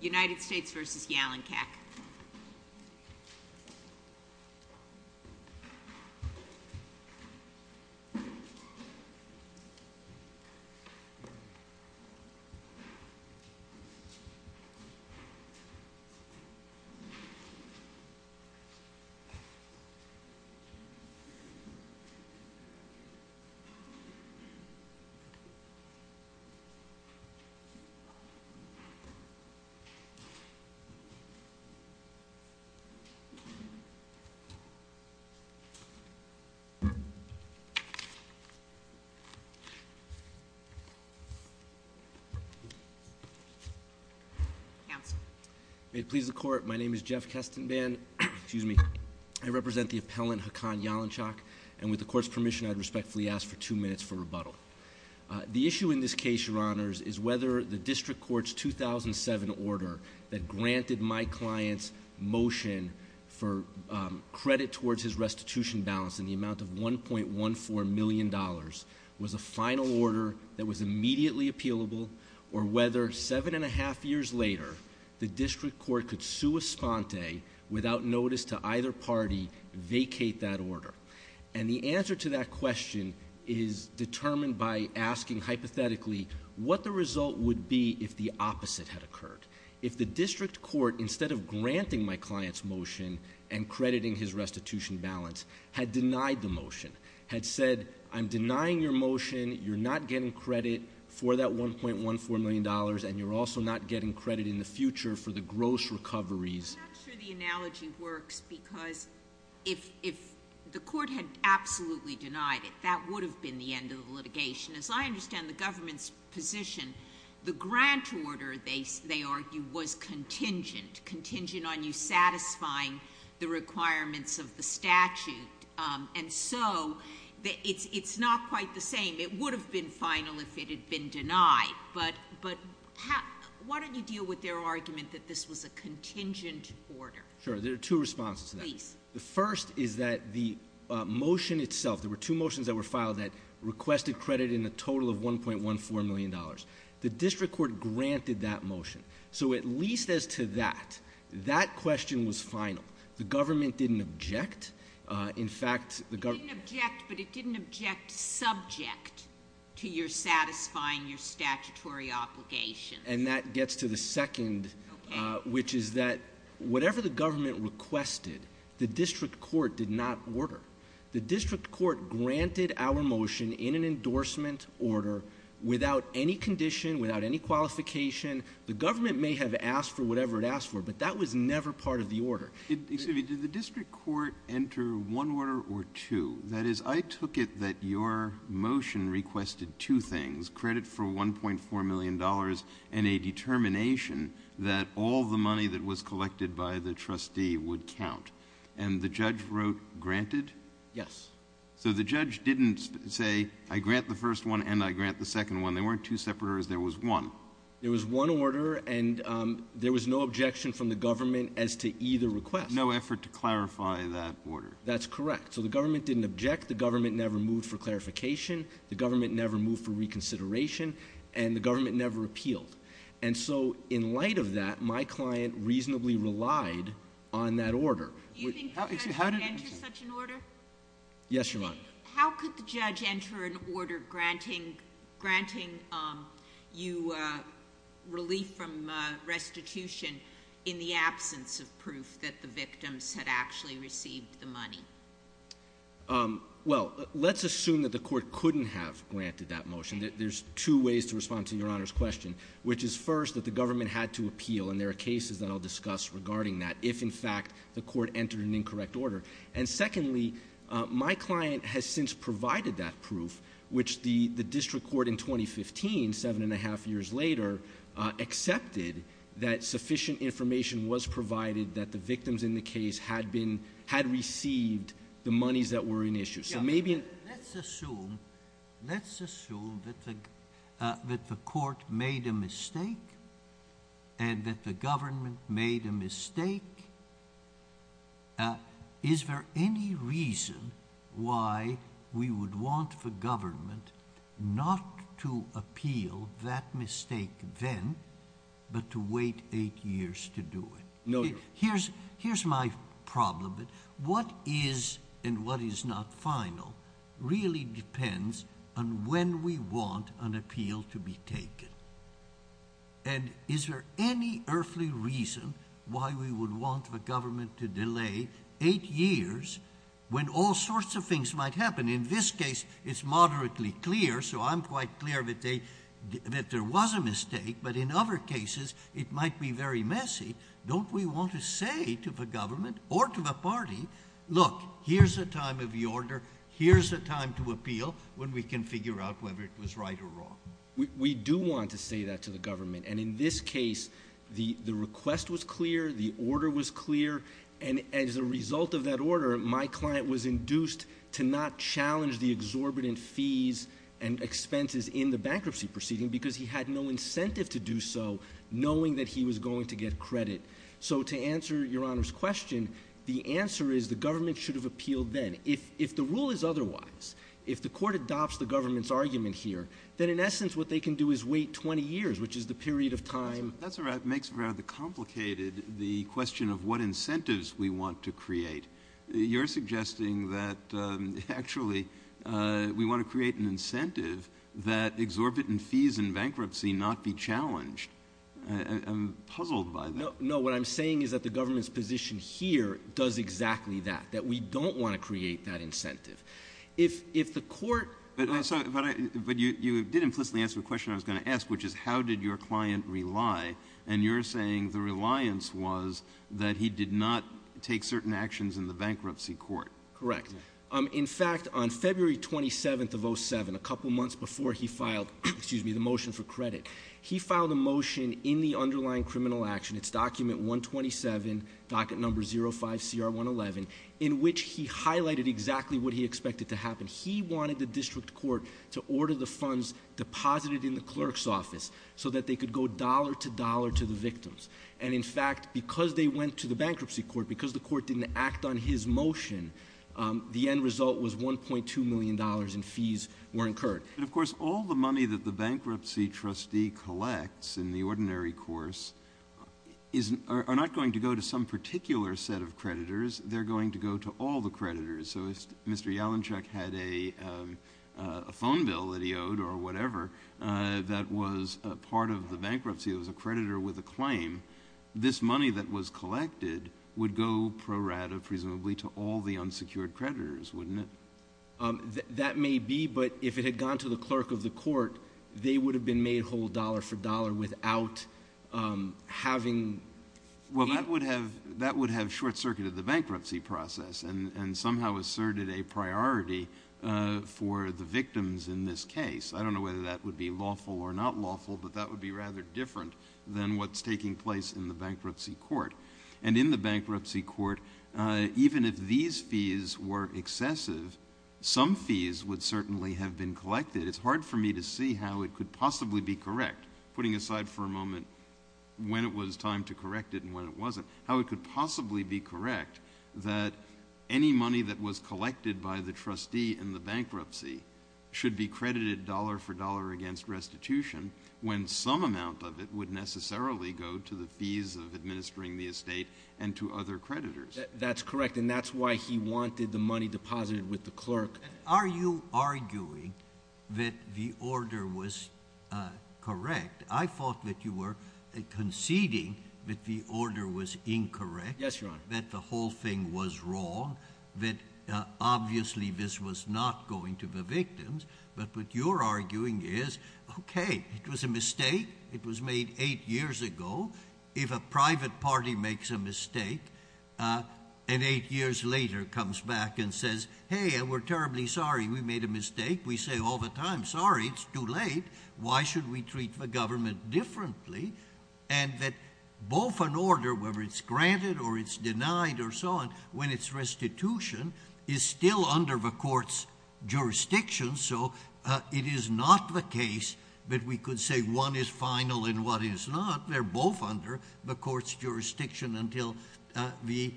United States v. Yalenkak. May it please the court, my name is Jeff Kestenban, excuse me, I represent the appellant Hakan Yalenkak, and with the court's permission I respectfully ask for two minutes for rebuttal. The issue in this case, your honors, is whether the district court's 2007 order that granted my client's motion for credit towards his restitution balance in the amount of $1.14 million was a final order that was immediately appealable, or whether seven and a half years later the district court could sue Esponte without notice to either party vacate that hypothetically, what the result would be if the opposite had occurred. If the district court, instead of granting my client's motion and crediting his restitution balance, had denied the motion, had said, I'm denying your motion, you're not getting credit for that $1.14 million, and you're also not getting credit in the future for the gross recoveries. I'm not sure the analogy works because if the court had absolutely denied it, that would have been the end of the litigation. As I understand the government's position, the grant order, they argue, was contingent, contingent on you satisfying the requirements of the statute, and so it's not quite the same. It would have been final if it had been denied, but why don't you deal with their argument that this was a contingent order? Sure. There are two responses to that. Please. The first is that the motion itself, there were two motions that were filed that requested credit in a total of $1.14 million. The district court granted that motion, so at least as to that, that question was final. The government didn't object. In fact, the government... It didn't object, but it didn't object subject to your satisfying your statutory obligation. That gets to the second, which is that whatever the government requested, the district court did not order. The district court granted our motion in an endorsement order without any condition, without any qualification. The government may have asked for whatever it asked for, but that was never part of the order. Excuse me. Did the district court enter one order or two? That is, I took it that your $1.14 million and a determination that all the money that was collected by the trustee would count, and the judge wrote granted? Yes. So the judge didn't say, I grant the first one and I grant the second one. They weren't two separate orders. There was one. There was one order, and there was no objection from the government as to either request. No effort to clarify that order. That's correct. So the government didn't object. The government never moved for clarification. The government never moved for reconsideration, and the government never appealed. And so in light of that, my client reasonably relied on that order. Do you think the judge could enter such an order? Yes, Your Honor. How could the judge enter an order granting you relief from restitution in the absence of proof that the victims had actually received the money? Well, let's assume that the court couldn't have granted that motion. There's two ways to respond to Your Honor's question, which is first that the government had to appeal, and there are cases that I'll discuss regarding that, if in fact the court entered an incorrect order. And secondly, my client has since provided that proof, which the district court in 2015, seven and a half years later, accepted that sufficient information was provided that the victims in the case had received the monies that were in issue. Let's assume that the court made a mistake and that the government made a mistake. Is there any reason why we would want the government not to appeal that mistake then, but to wait eight years to do it? No, Your Honor. Here's my problem. What is and what is not final really depends on when we want an appeal to be taken. And is there any earthly reason why we would want the government to delay eight years when all sorts of things might happen? In this case, it's moderately clear, so I'm quite clear that there was a mistake, but in other cases, it might be very messy. Don't we want to say to the government or to the party, look, here's the time of the order, here's the time to appeal when we can figure out whether it was right or wrong? We do want to say that to the government, and in this case, the request was clear, the order was clear, and as a result of that order, my client was induced to not challenge the budget expenses in the bankruptcy proceeding because he had no incentive to do so knowing that he was going to get credit. So to answer Your Honor's question, the answer is the government should have appealed then. If the rule is otherwise, if the court adopts the government's argument here, then in essence, what they can do is wait 20 years, which is the period of time— That's right. It makes it rather complicated, the question of what incentives we want to exorbitant fees in bankruptcy not be challenged. I'm puzzled by that. No, what I'm saying is that the government's position here does exactly that, that we don't want to create that incentive. If the court— But you did implicitly answer the question I was going to ask, which is how did your client rely, and you're saying the reliance was that he did not take certain actions in the bankruptcy court. Correct. In fact, on February 27th of 07, a couple months before he filed the motion for credit, he filed a motion in the underlying criminal action, it's document 127, docket number 05CR111, in which he highlighted exactly what he expected to happen. He wanted the district court to order the funds deposited in the clerk's office so that they could go dollar to dollar to the victims. And in fact, because they went to the bankruptcy court, because the court didn't act on his motion, the end result was $1.2 million in fees were incurred. And of course, all the money that the bankruptcy trustee collects in the ordinary course are not going to go to some particular set of creditors. They're going to go to all the creditors. So if Mr. Yalinchuk had a phone bill that he owed or whatever that was part of the bankruptcy, it was a creditor with a claim, this money that was collected would go pro rata, presumably, to all the unsecured creditors, wouldn't it? That may be, but if it had gone to the clerk of the court, they would have been made whole dollar for dollar without having... Well, that would have short-circuited the bankruptcy process and somehow asserted a priority for the victims in this case. I don't know whether that would be lawful or not lawful, but that would be rather different than what's taking place in the bankruptcy court. And in the bankruptcy court, even if these fees were excessive, some fees would certainly have been collected. It's hard for me to see how it could possibly be correct, putting aside for a moment when it was time to correct it and when it wasn't, how it could possibly be correct that any money that was collected by the trustee in the bankruptcy should be when some amount of it would necessarily go to the fees of administering the estate and to other creditors. That's correct, and that's why he wanted the money deposited with the clerk. Are you arguing that the order was correct? I thought that you were conceding that the order was incorrect. Yes, Your Honor. That the whole thing was wrong, that obviously this was not going to the victims, but what you're arguing is, okay, it was a mistake. It was made eight years ago. If a private party makes a mistake and eight years later comes back and says, hey, we're terribly sorry we made a mistake, we say all the time, sorry, it's too late. Why should we treat the government differently? And that both an order, whether it's granted or it's denied or so on, when it's restitution, is still under the court's jurisdiction, so it is not the case that we could say one is final and one is not. They're both under the court's jurisdiction until the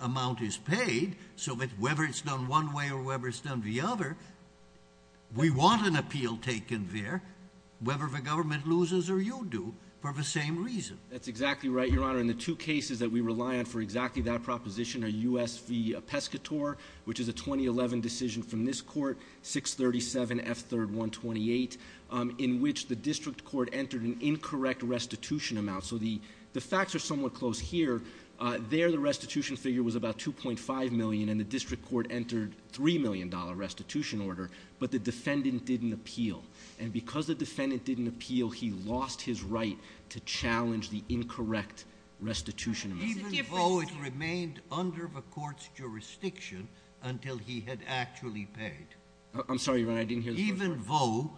amount is paid, so that whether it's done one way or whether it's done the other, we want an appeal taken there, whether the government loses or you do, for the same reason. That's exactly right, Your Honor. And the two cases that we rely on for exactly that proposition are U.S. v. Pescatore, which is a 2011 decision from this court, 637 F. 3rd 128, in which the district court entered an incorrect restitution amount. So the facts are somewhat close here. There the restitution figure was about $2.5 million and the district court entered $3 million restitution order, but the defendant didn't appeal. And because the defendant didn't appeal, he lost his right to challenge the incorrect restitution amount. Even though it remained under the court's jurisdiction until he had actually paid. I'm sorry, Your Honor, I didn't hear the first part. Even though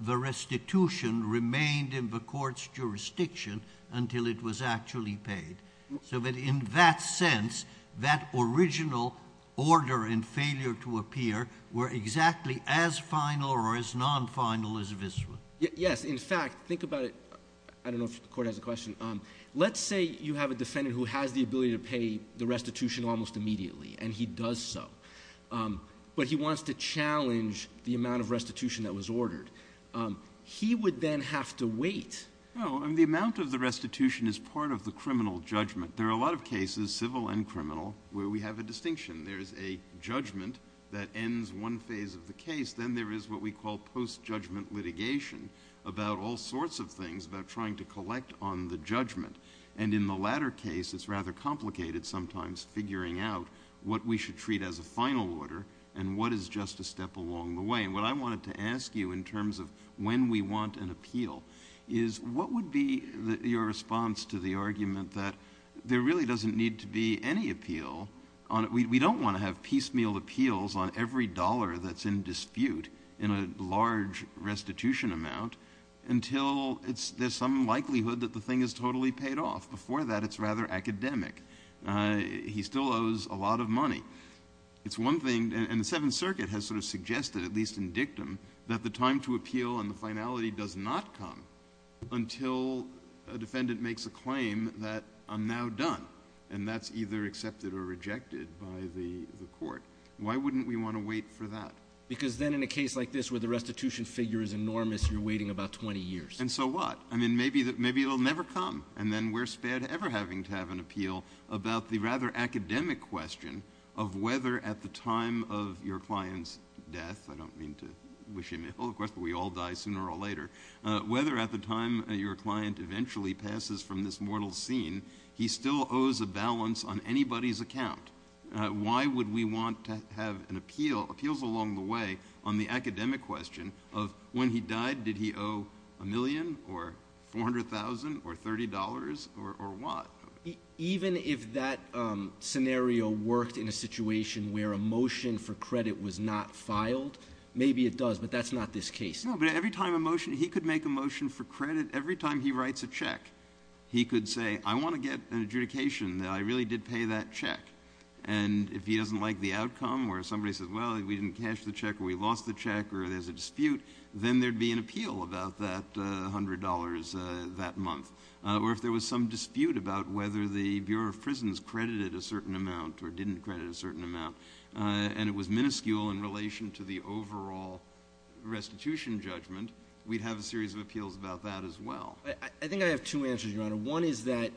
the restitution remained in the court's jurisdiction until it was actually paid, so that in that sense, that original order and failure to appear were exactly as final or as non-final as this one. Yes. In fact, think about it. I don't know if the court has a question. Let's say you have a defendant who has the ability to pay the restitution almost immediately, and he does so. But he wants to challenge the amount of restitution that was ordered. He would then have to wait. Well, the amount of the restitution is part of the criminal judgment. There are a lot of cases, civil and criminal, where we have a distinction. There's a judgment that ends one phase of the case. Then there is what we call post-judgment litigation about all sorts of things, about trying to collect on the judgment. And in the latter case, it's rather complicated sometimes figuring out what we should treat as a final order and what is just a step along the way. And what I wanted to ask you in terms of when we want an appeal is, what would be your response to the argument that there really doesn't need to be any appeal? We don't want to have piecemeal appeals on every dollar that's in dispute in a large restitution amount until there's some likelihood that the thing is totally paid off. Before that, it's rather academic. He still owes a lot of money. It's one thing, and the Seventh Circuit has sort of suggested, at least in dictum, that the time to appeal and the finality does not come until a defendant makes a claim that I'm now done. And that's either accepted or rejected by the court. Why wouldn't we want to wait for that? Because then in a case like this where the restitution figure is enormous, you're waiting about 20 years. And so what? I mean, maybe it will never come. And then we're spared ever having to have an appeal about the rather academic question of whether at the time of your client's death – I don't mean to wish him ill, of course, but we all die sooner or later – whether at the time your client eventually passes from this mortal scene, he still owes a balance on anybody's account. Why would we want to have an appeal, appeals along the way, on the academic question of when he died, did he owe a million or $400,000 or $30 or what? Even if that scenario worked in a situation where a motion for credit was not filed? Maybe it does, but that's not this case. No, but every time a motion – he could make a motion for credit – every time he writes a check, he could say, I want to get an adjudication that I really did pay that check. And if he doesn't like the outcome or somebody says, well, we didn't cash the check or we lost the check or there's a dispute, then there'd be an appeal about that $100 that month. Or if there was some dispute about whether the Bureau of Prisons credited a certain amount or didn't credit a certain amount and it was minuscule in relation to the overall restitution judgment, we'd have a series of appeals about that as well. I think I have two answers, Your Honor. One is that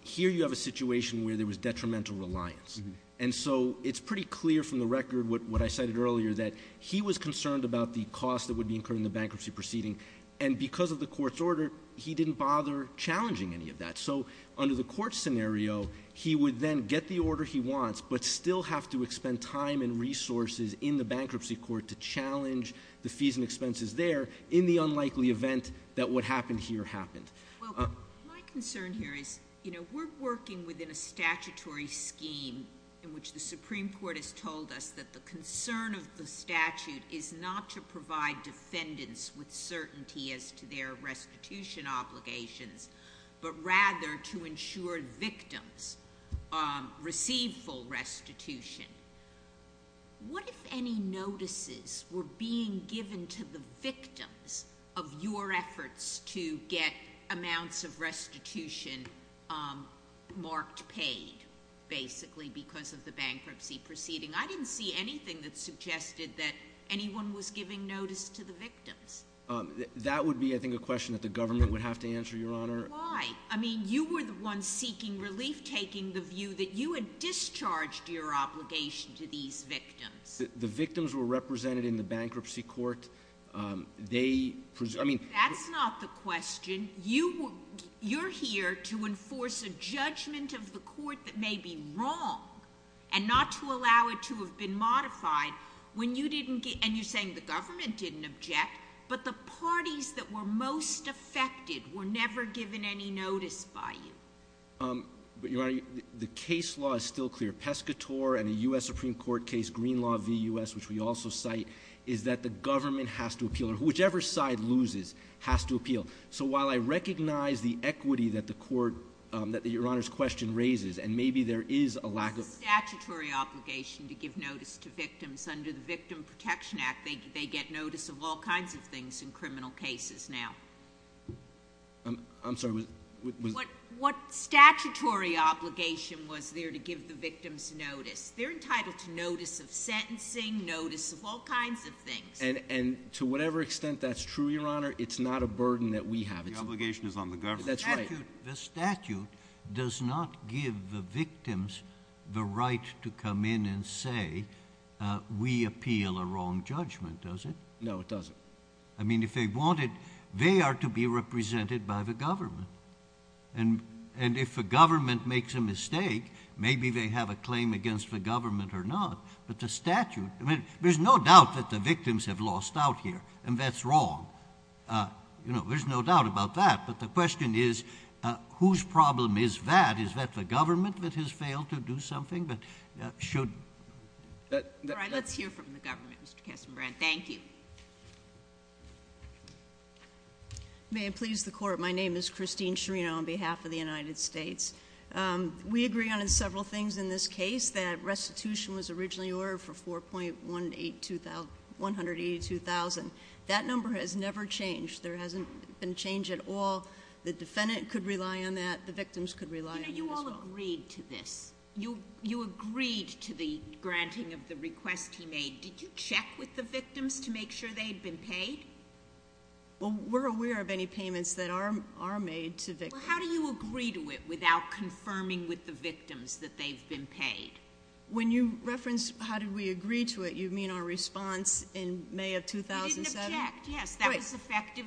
here you have a situation where there was detrimental reliance. And so it's pretty clear from the record what I cited earlier that he was concerned about the cost that would be incurred in the bankruptcy proceeding and because of the court's order, he didn't bother challenging any of that. So under the court scenario, he would then get the order he wants but still have to expend time and resources in the bankruptcy court to challenge the fees and expenses there in the unlikely event that what happened here happened. Well, my concern here is, you know, we're working within a statutory scheme in which the Supreme Court has told us that the concern of the statute is not to provide defendants with certainty as to their restitution obligations but rather to ensure victims receive full restitution. What if any notices were being given to the victims of your efforts to get amounts of restitution marked paid basically because of the bankruptcy proceeding? I didn't see anything that suggested that anyone was giving notice to the victims. That would be, I think, a question that the government would have to answer, Your Honor. Why? I mean, you were the one seeking relief, taking the view that you had discharged your obligation to these victims. The victims were represented in the bankruptcy court. They, I mean... That's not the question. You're here to enforce a judgment of the court that may be wrong and not to allow it to have been modified when you didn't get, and you're saying the government didn't object, but the parties that were most affected were never given any notice by you. But, Your Honor, the case law is still clear. Pescatore and a U.S. Supreme Court case, Greenlaw v. U.S., which we also cite, is that the government has to appeal or whichever side loses has to appeal. So while I recognize the equity that the court, that Your Honor's question raises, and maybe there is a lack of... It was a statutory obligation to give notice to victims. Under the Victim Protection Act, they get notice of all kinds of things in criminal cases now. I'm sorry, was... What statutory obligation was there to give the victims notice? They're entitled to notice of sentencing, notice of all kinds of things. And to whatever extent that's true, Your Honor, it's not a burden that we have. The obligation is on the government. That's right. The statute does not give the victims the right to come in and say, we appeal a wrong judgment, does it? No, it doesn't. I mean, if they wanted, they are to be represented by the government. And if the government makes a mistake, maybe they have a claim against the government or not, but the statute... I mean, there's no doubt that the victims have lost out here, and that's wrong. You know, the question is, whose problem is that? Is that the government that has failed to do something that should... All right, let's hear from the government, Mr. Kestenbrand. Thank you. May it please the Court, my name is Christine Schirino on behalf of the United States. We agree on several things in this case, that restitution was originally ordered for 4.182,000. That number has never changed. There hasn't been change at all. The defendant could rely on that, the victims could rely on this one. You know, you all agreed to this. You agreed to the granting of the request he made. Did you check with the victims to make sure they'd been paid? Well, we're aware of any payments that are made to victims. Well, how do you agree to it without confirming with the victims that they've been paid? When you referenced how do we agree to it, you mean our response in May of 2007? We didn't object, yes. That was effective.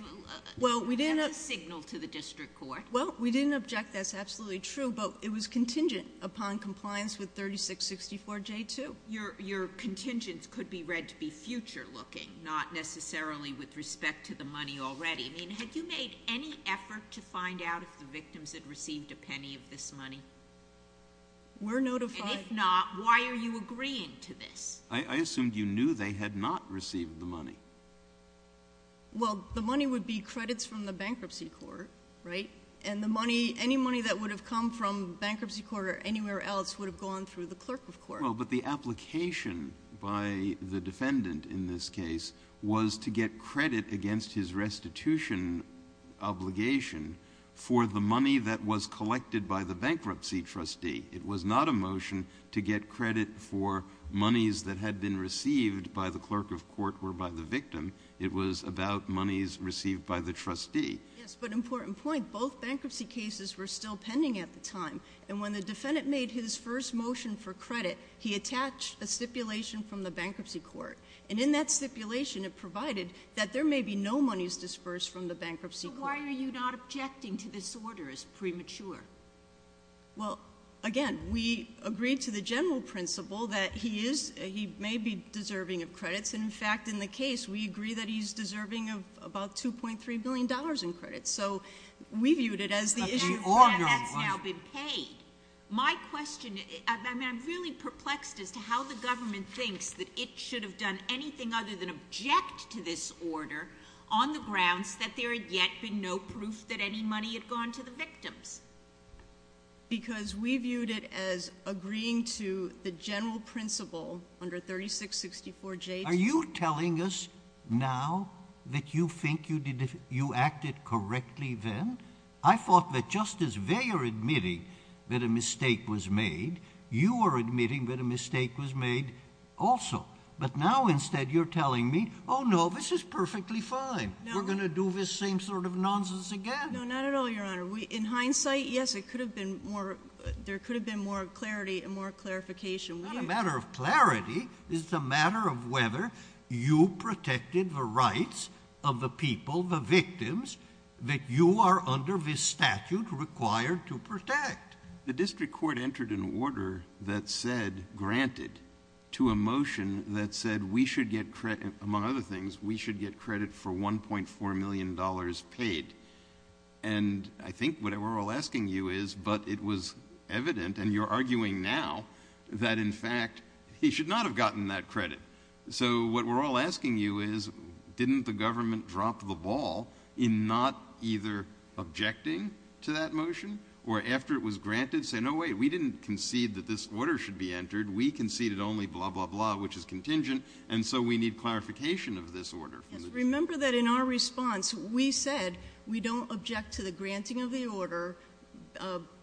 Well, we didn't... That's a signal to the district court. Well, we didn't object, that's absolutely true, but it was contingent upon compliance with 3664J2. Your contingents could be read to be future-looking, not necessarily with respect to the money already. I mean, have you made any effort to find out if the victims had received a penny of this money? We're notified. If not, why are you agreeing to this? I assumed you knew they had not received the money. Well, the money would be credits from the bankruptcy court, right? And the money, any money that would have come from bankruptcy court or anywhere else would have gone through the clerk of court. Well, but the application by the defendant in this case was to get credit against his restitution obligation for the money that was collected by the bankruptcy trustee. It was not a motion to get credit for monies that had been received by the clerk of court or by the victim. It was about monies received by the trustee. Yes, but important point, both bankruptcy cases were still pending at the time, and when the defendant made his first motion for credit, he attached a stipulation from the bankruptcy court. And in that stipulation, it provided that there may be no monies dispersed from the bankruptcy court. So why are you not objecting to this order as premature? Well, again, we agreed to the general principle that he is, he may be deserving of credits. And in fact, in the case, we agree that he's deserving of about $2.3 billion in credits. So we viewed it as the issue. But that's now been paid. My question, I'm really perplexed as to how the government thinks that it should have done anything other than object to this order on the grounds that there had yet been no proof that any money had gone to the victims. Because we viewed it as agreeing to the general principle under 3664J2. Are you telling us now that you think you acted correctly then? I thought that just as they are admitting that a mistake was made, you are admitting that a mistake was made also. But now instead you're telling me, oh no, this is perfectly fine. We're going to do this same sort of nonsense again. No, not at all, Your Honor. In hindsight, yes, it could have been more, there could have been more clarity and more clarification. It's not a matter of clarity. It's a matter of whether you protected the rights of the people, the victims, that you are under this statute required to protect. The district court entered an order that said, granted, to a motion that said we should get credit, among other things, we should get credit for $1.4 million paid. And I think what we're all asking you is, but it was evident, and you're arguing now, that in fact he should not have gotten that credit. So what we're all asking you is, didn't the government drop the ball in not either objecting to that motion, or after it was granted, say, no wait, we didn't concede that this order should be entered, we conceded only blah, blah, blah, which is contingent, and so we need clarification of this order. Remember that in our response, we said we don't object to the granting of the order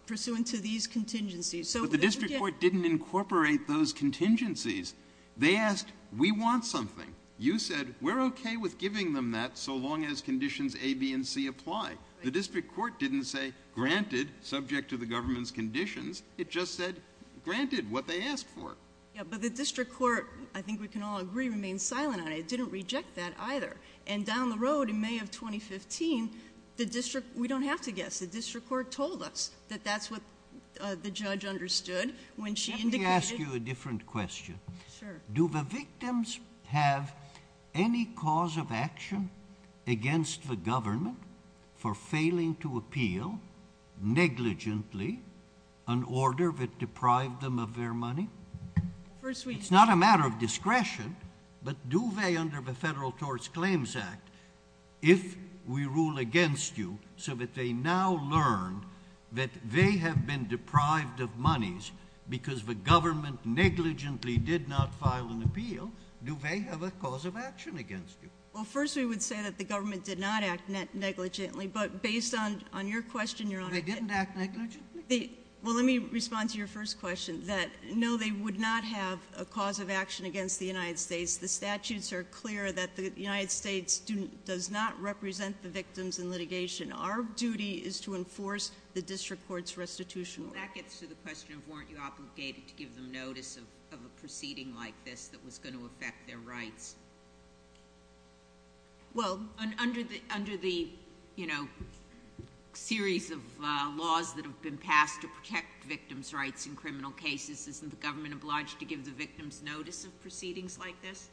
pursuant to these contingencies. But the district court didn't incorporate those contingencies. They asked, we want something. You said, we're okay with giving them that so long as conditions A, B, and C apply. The district court didn't say, granted, subject to the government's conditions. It just said, granted, what they asked for. Yeah, but the district court, I think we can all agree, remained silent on it. It didn't reject that either. And down the road in May of 2015, the district, we don't have to guess, the district court told us that that's what the judge understood when she indicated Let me ask you a different question. Sure. Do the victims have any cause of action against the government for failing to appeal negligently an order that deprived them of their money? It's not a matter of discretion, but do they, under the Federal Tort Claims Act, if we rule against you so that they now learn that they have been deprived of monies because the government negligently did not file an appeal, do they have a cause of action against you? Well, first we would say that the government did not act negligently, but based on your question, Your Honor, They didn't act negligently? Well, let me respond to your first question. No, they would not have a cause of action against the United States. The statutes are clear that the United States does not represent the victims in litigation. Our duty is to enforce the district court's restitution order. Well, that gets to the question of weren't you obligated to give them notice of a proceeding like this that was going to affect their rights? Well, under the series of laws that have been passed to protect victims' rights in criminal cases, isn't the government obliged to give the victims notice of proceedings like this?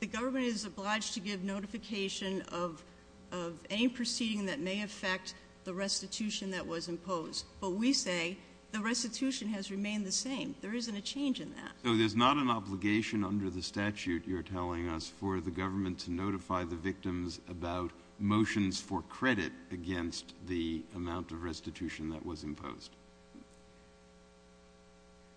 The government is obliged to give notification of any proceeding that may affect the restitution that was imposed. But we say the restitution has remained the same. There isn't a change in that. So there's not an obligation under the statute you're telling us for the government to notify the victims about motions for credit against the amount of restitution that was imposed?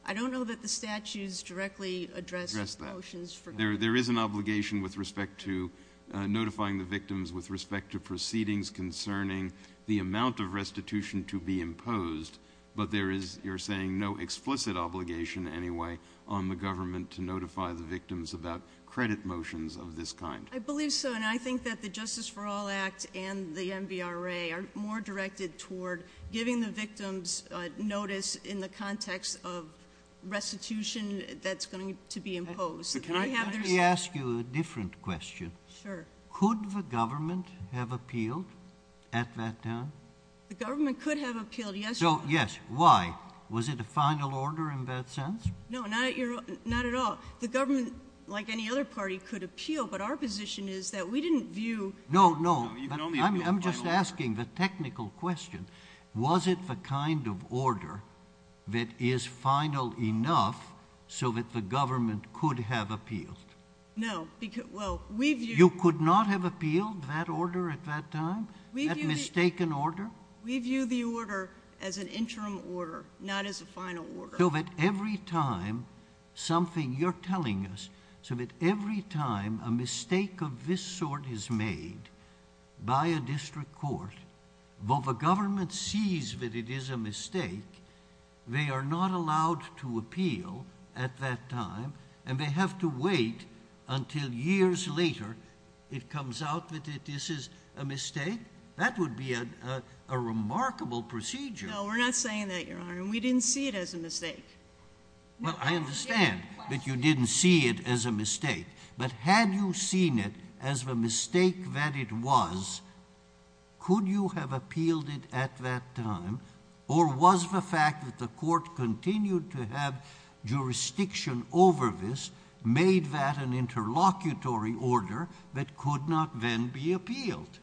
I don't know that the statutes directly address motions for credit. There is an obligation with respect to notifying the victims with respect to proceedings concerning the amount of restitution to be imposed, but there is, you're saying, no explicit obligation anyway on the government to notify the victims about credit motions of this kind. I believe so, and I think that the Justice for All Act and the MVRA are more directed toward giving the victims notice in the context of restitution that's going to be imposed. Let me ask you a different question. Sure. Could the government have appealed at that time? The government could have appealed yesterday. So, yes. Why? Was it a final order in that sense? No, not at all. The government, like any other party, could appeal, but our position is that we didn't view... No, no, but I'm just asking the technical question. Was it the kind of order that is final enough so that the government could have appealed? No, because, well, we viewed... You could not have appealed that order at that time? That mistaken order? We view the order as an interim order, not as a final order. So that every time something you're telling us, so that every time a mistake of this sort is made by a district court, though the government sees that it is a mistake, they are not allowed to appeal at that time, and they have to wait until years later it comes out that this is a mistake? That would be a remarkable procedure. No, we're not saying that, Your Honour. We didn't see it as a mistake. Well, I understand that you didn't see it as a mistake, but had you seen it as the mistake that it was, could you have appealed it at that time? Or was the fact that the court continued to have jurisdiction over this, made that an interlocutory order that could not then be appealed?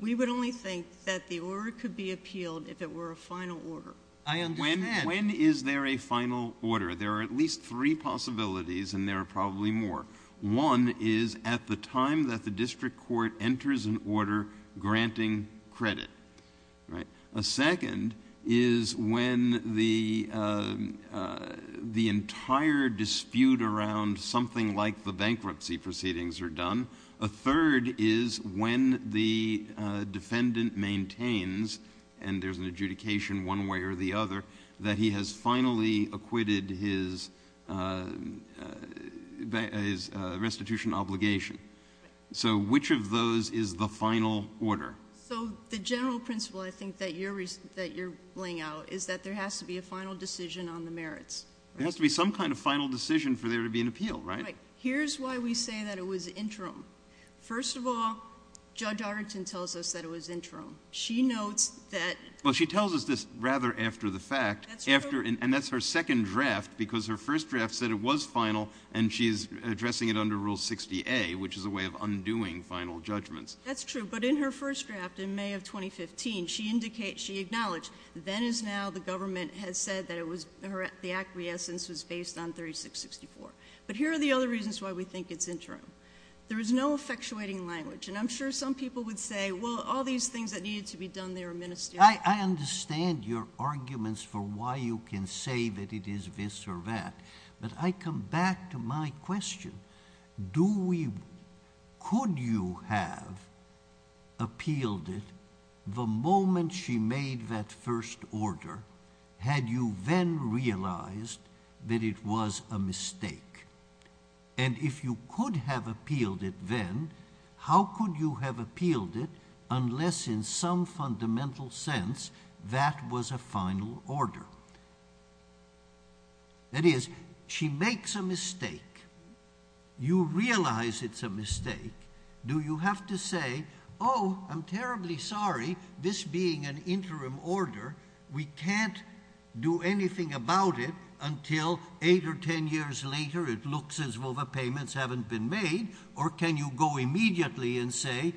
We would only think that the order could be appealed if it were a final order. I understand. When is there a final order? There are at least three possibilities, and there are probably more. One is at the time that the district court enters an order granting credit. A second is when the entire dispute around something like the bankruptcy proceedings are done. A third is when the defendant maintains, and there's an adjudication one way or the other, that he has finally acquitted his restitution obligation. So which of those is the final order? So the general principle I think that you're laying out is that there has to be a final decision on the merits. There has to be some kind of final decision for there to be an appeal, right? Right. Here's why we say that it was interim. First of all, Judge Arrington tells us that it was interim. She notes that — Well, she tells us this rather after the fact, and that's her second draft, because her first draft said it was final, and she's addressing it under Rule 60A, which is a way of undoing final judgments. That's true. But in her first draft in May of 2015, she acknowledged, then as now the government has said that the acquiescence was based on 3664. But here are the other reasons why we think it's interim. There is no effectuating language, and I'm sure some people would say, well, all these things that needed to be done, they were ministerial. I understand your arguments for why you can say that it is this or that, but I come back to my question. Could you have appealed it the moment she made that first order had you then realized that it was a mistake? And if you could have appealed it then, how could you have appealed it unless in some fundamental sense that was a final order? That is, she makes a mistake. You realize it's a mistake. Do you have to say, oh, I'm terribly sorry, this being an interim order, we can't do anything about it until eight or ten years later it looks as though the payments haven't been made, or can you go immediately and say,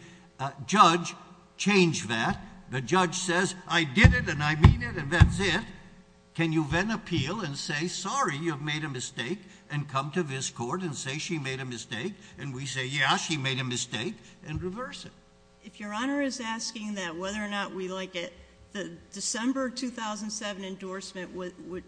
judge, change that. The judge says, I did it and I mean it and that's it. Can you then appeal and say, sorry, you've made a mistake, and come to this court and say she made a mistake, and we say, yeah, she made a mistake, and reverse it. If Your Honor is asking that whether or not we like it, the December 2007 endorsement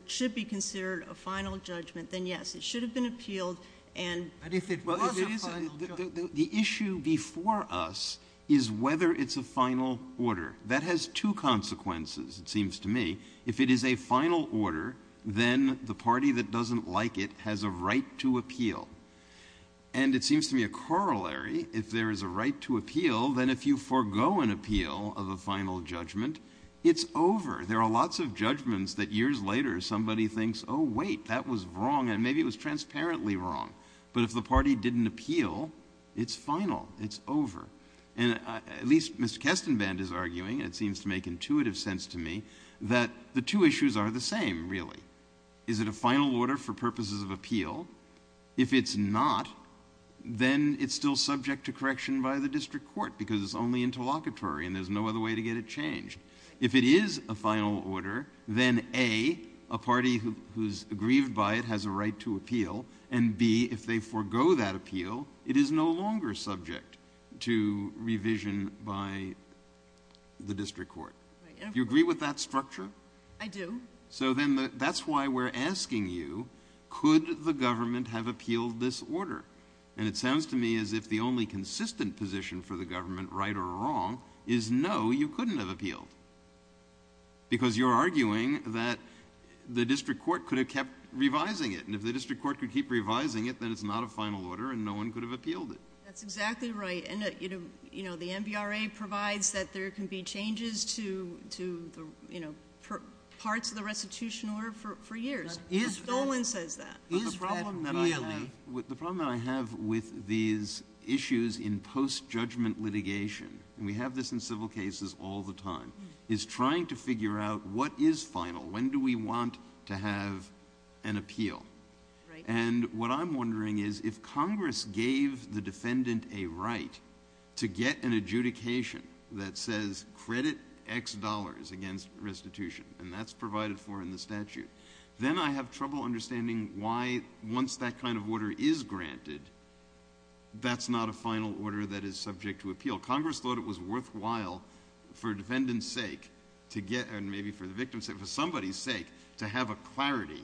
should be considered a final judgment, then yes. It should have been appealed. But if it was a final judgment. The issue before us is whether it's a final order. That has two consequences, it seems to me. If it is a final order, then the party that doesn't like it has a right to appeal. And it seems to me a corollary, if there is a right to appeal, then if you forego an appeal of a final judgment, it's over. There are lots of judgments that years later somebody thinks, oh, wait, that was wrong and maybe it was transparently wrong. But if the party didn't appeal, it's final, it's over. At least Mr. Kestenband is arguing, and it seems to make intuitive sense to me, that the two issues are the same, really. Is it a final order for purposes of appeal? If it's not, then it's still subject to correction by the district court because it's only interlocutory and there's no other way to get it changed. If it is a final order, then A, a party who's aggrieved by it has a right to appeal, and B, if they forego that appeal, it is no longer subject to revision by the district court. Do you agree with that structure? I do. So then that's why we're asking you, could the government have appealed this order? And it sounds to me as if the only consistent position for the government, right or wrong, is no, you couldn't have appealed because you're arguing that the district court could have kept revising it. And if the district court could keep revising it, then it's not a final order and no one could have appealed it. That's exactly right. The NBRA provides that there can be changes to parts of the restitution order for years. No one says that. The problem that I have with these issues in post-judgment litigation, and we have this in civil cases all the time, is trying to figure out what is final, when do we want to have an appeal. And what I'm wondering is if Congress gave the defendant a right to get an adjudication that says credit X dollars against restitution, and that's provided for in the statute, then I have trouble understanding why, once that kind of order is granted, that's not a final order that is subject to appeal. Maybe for the victim's sake, for somebody's sake, to have a clarity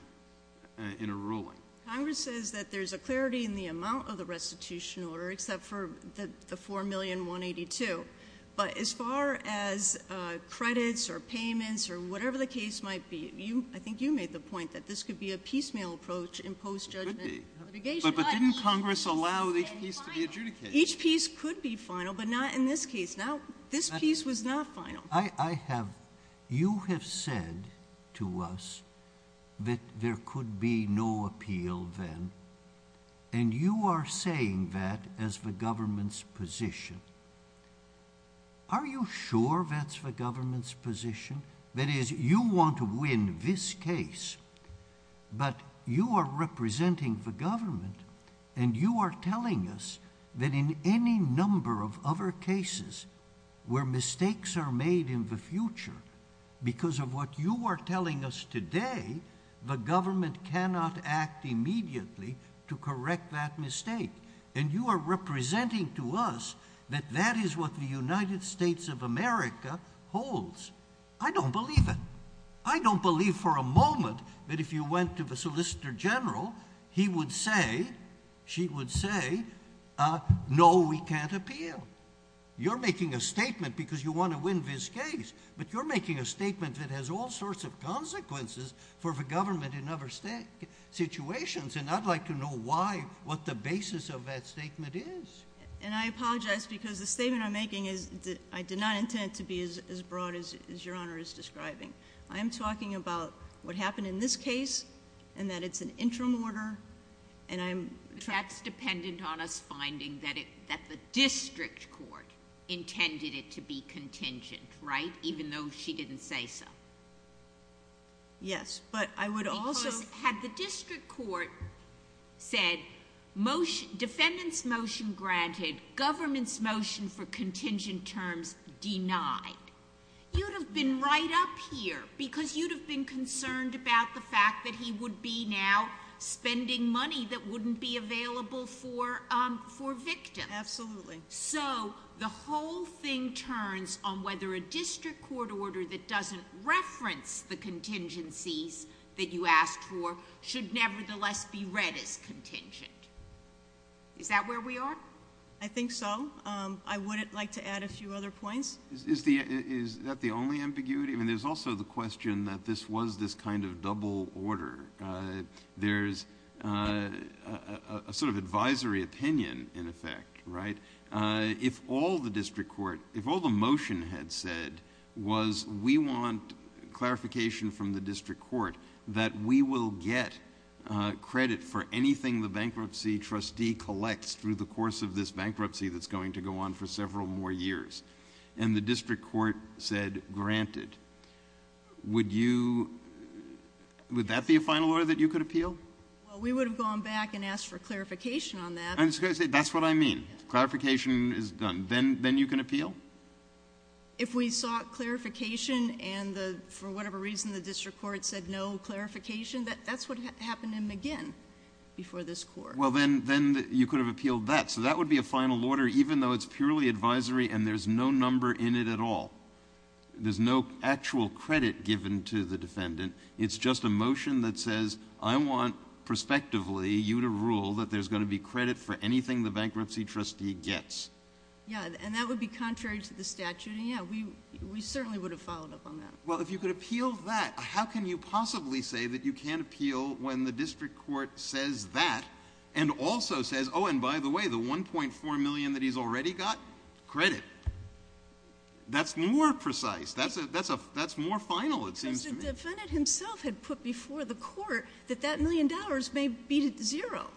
in a ruling. Congress says that there's a clarity in the amount of the restitution order, except for the $4,182,000. But as far as credits or payments or whatever the case might be, I think you made the point that this could be a piecemeal approach in post-judgment litigation. But didn't Congress allow each piece to be adjudicated? Each piece could be final, but not in this case. Now, this piece was not final. You have said to us that there could be no appeal then, and you are saying that as the government's position. Are you sure that's the government's position? That is, you want to win this case, but you are representing the government, and you are telling us that in any number of other cases where mistakes are made in the future, because of what you are telling us today, the government cannot act immediately to correct that mistake. And you are representing to us that that is what the United States of America holds. I don't believe it. I don't believe for a moment that if you went to the Solicitor General, he would say, she would say, no, we can't appeal. You're making a statement because you want to win this case, but you're making a statement that has all sorts of consequences for the government in other situations, and I'd like to know why, what the basis of that statement is. And I apologize because the statement I'm making is, I did not intend it to be as broad as Your Honor is describing. I'm talking about what happened in this case, and that it's an interim order, and I'm- That's dependent on us finding that the district court intended it to be contingent, right? Even though she didn't say so. Yes, but I would also- Because had the district court said, motion, defendant's motion granted, government's motion for contingent terms denied, you'd have been right up here, because you'd have been concerned about the fact that he would be now spending money that wouldn't be available for victims. Absolutely. So, the whole thing turns on whether a district court order that doesn't reference the contingencies that you asked for should nevertheless be read as contingent. Is that where we are? I think so. I would like to add a few other points. Is that the only ambiguity? I mean, there's also the question that this was this kind of double order. There's a sort of advisory opinion, in effect, right? If all the motion had said was, we want clarification from the district court that we will get credit for anything the bankruptcy trustee collects through the course of this bankruptcy that's going to go on for several more years. And the district court said, granted. Would that be a final order that you could appeal? Well, we would have gone back and asked for clarification on that. That's what I mean. Clarification is done. Then you can appeal? If we sought clarification, and for whatever reason the district court said no clarification, that's what happened again before this Court. Well, then you could have appealed that. So that would be a final order, even though it's purely advisory and there's no number in it at all. There's no actual credit given to the defendant. It's just a motion that says, I want prospectively you to rule that there's going to be credit for anything the bankruptcy trustee gets. Yeah, and that would be contrary to the statute. And, yeah, we certainly would have followed up on that. Well, if you could appeal that, how can you possibly say that you can't appeal when the district court says that and also says, oh, and by the way, the $1.4 million that he's already got, credit? That's more precise. That's more final, it seems to me. Because the defendant himself had put before the court that that million dollars may be zero.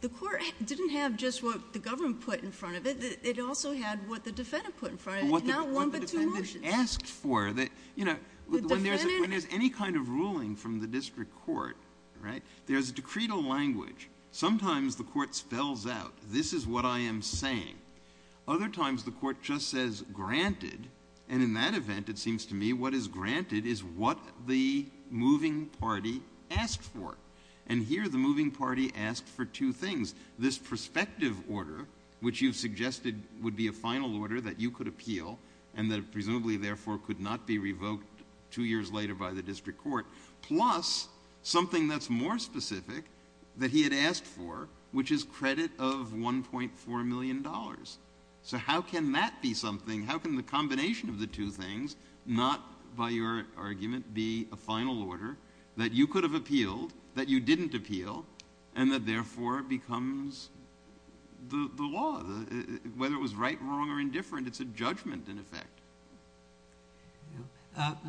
The court didn't have just what the government put in front of it. It also had what the defendant put in front of it. Not one but two motions. What the defendant asked for. When there's any kind of ruling from the district court, right, there's a decretal language. Sometimes the court spells out, this is what I am saying. Other times the court just says, granted, and in that event, it seems to me, what is granted is what the moving party asked for. And here the moving party asked for two things. This prospective order, which you've suggested would be a final order that you could appeal and that presumably therefore could not be revoked two years later by the district court, plus something that's more specific that he had asked for, which is credit of $1.4 million. So how can that be something? How can the combination of the two things not, by your argument, be a final order that you could have appealed, that you didn't appeal, and that therefore becomes the law? Whether it was right, wrong, or indifferent, it's a judgment in effect.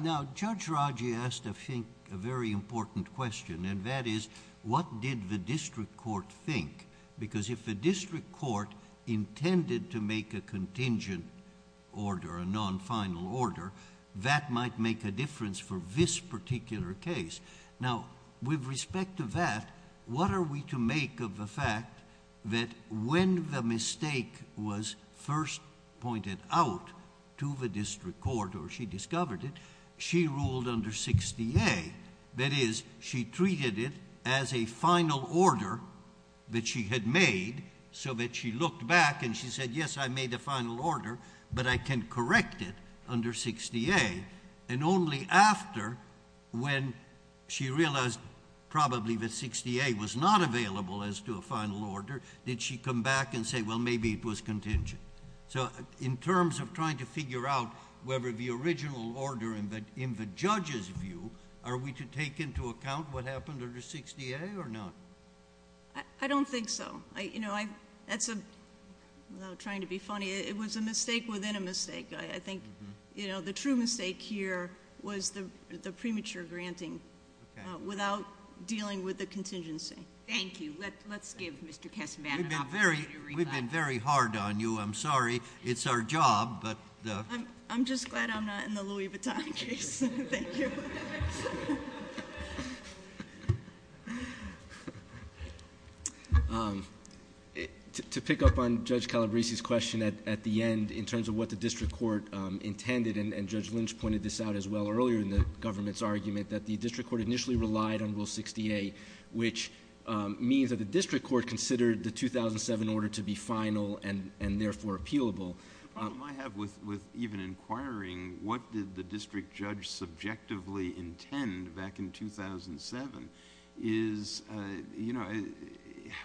Now, Judge Raji asked, I think, a very important question, and that is, what did the district court think? Because if the district court intended to make a contingent order, a non-final order, that might make a difference for this particular case. Now, with respect to that, what are we to make of the fact that when the mistake was first pointed out to the district court or she discovered it, she ruled under 60A, that is, she treated it as a final order that she had made so that she looked back and she said, yes, I made a final order, but I can correct it under 60A. And only after, when she realized probably that 60A was not available as to a final order, did she come back and say, well, maybe it was contingent. So in terms of trying to figure out whether the original order, in the judge's view, are we to take into account what happened under 60A or not? I don't think so. You know, I'm trying to be funny. It was a mistake within a mistake. I think, you know, the true mistake here was the premature granting without dealing with the contingency. Thank you. Let's give Mr. Casaban an opportunity to reply. We've been very hard on you. I'm sorry. It's our job. I'm just glad I'm not in the Louis Vuitton case. Thank you. To pick up on Judge Calabresi's question at the end, in terms of what the district court intended, and Judge Lynch pointed this out as well earlier in the government's argument, that the district court initially relied on Rule 68, which means that the district court considered the 2007 order to be final and therefore appealable. The problem I have with even inquiring what did the district judge subjectively intend back in 2007 is, you know,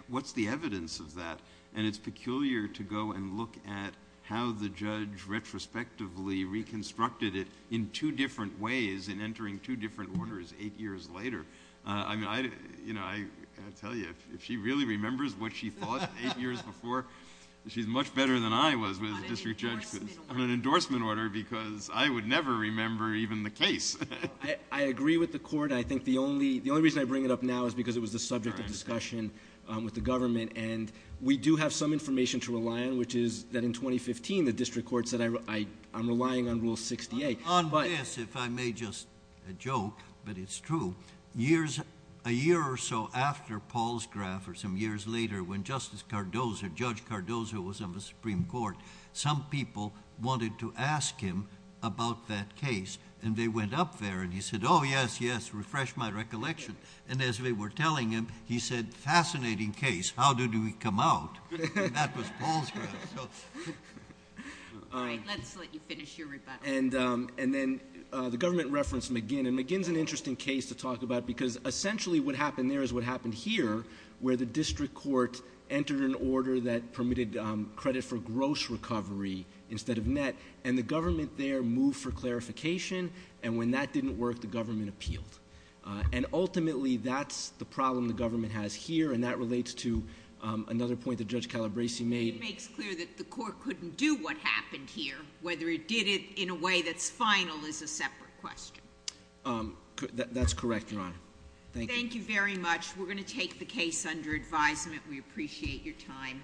what's the evidence of that? And it's peculiar to go and look at how the judge retrospectively reconstructed it in two different ways in entering two different orders eight years later. I mean, you know, I tell you, if she really remembers what she thought eight years before, she's much better than I was as a district judge on an endorsement order because I would never remember even the case. I agree with the court. I think the only reason I bring it up now is because it was the subject of discussion with the government, and we do have some information to rely on, which is that in 2015 the district court said I'm relying on Rule 68. On this, if I may just joke, but it's true, a year or so after Paulsgraf or some years later when Justice Cardozo, Judge Cardozo was on the Supreme Court, some people wanted to ask him about that case, and they went up there, and he said, oh, yes, yes, refresh my recollection. And as they were telling him, he said, fascinating case. How did we come out? And that was Paulsgraf. All right, let's let you finish your rebuttal. And then the government referenced McGinn, and McGinn's an interesting case to talk about because essentially what happened there is what happened here, where the district court entered an order that permitted credit for gross recovery instead of net, and the government there moved for clarification, and when that didn't work, the government appealed. And ultimately, that's the problem the government has here, and that relates to another point that Judge Calabresi made. It makes clear that the court couldn't do what happened here. Whether it did it in a way that's final is a separate question. That's correct, Your Honor. Thank you. Thank you very much. We're going to take the case under advisement. We appreciate your time.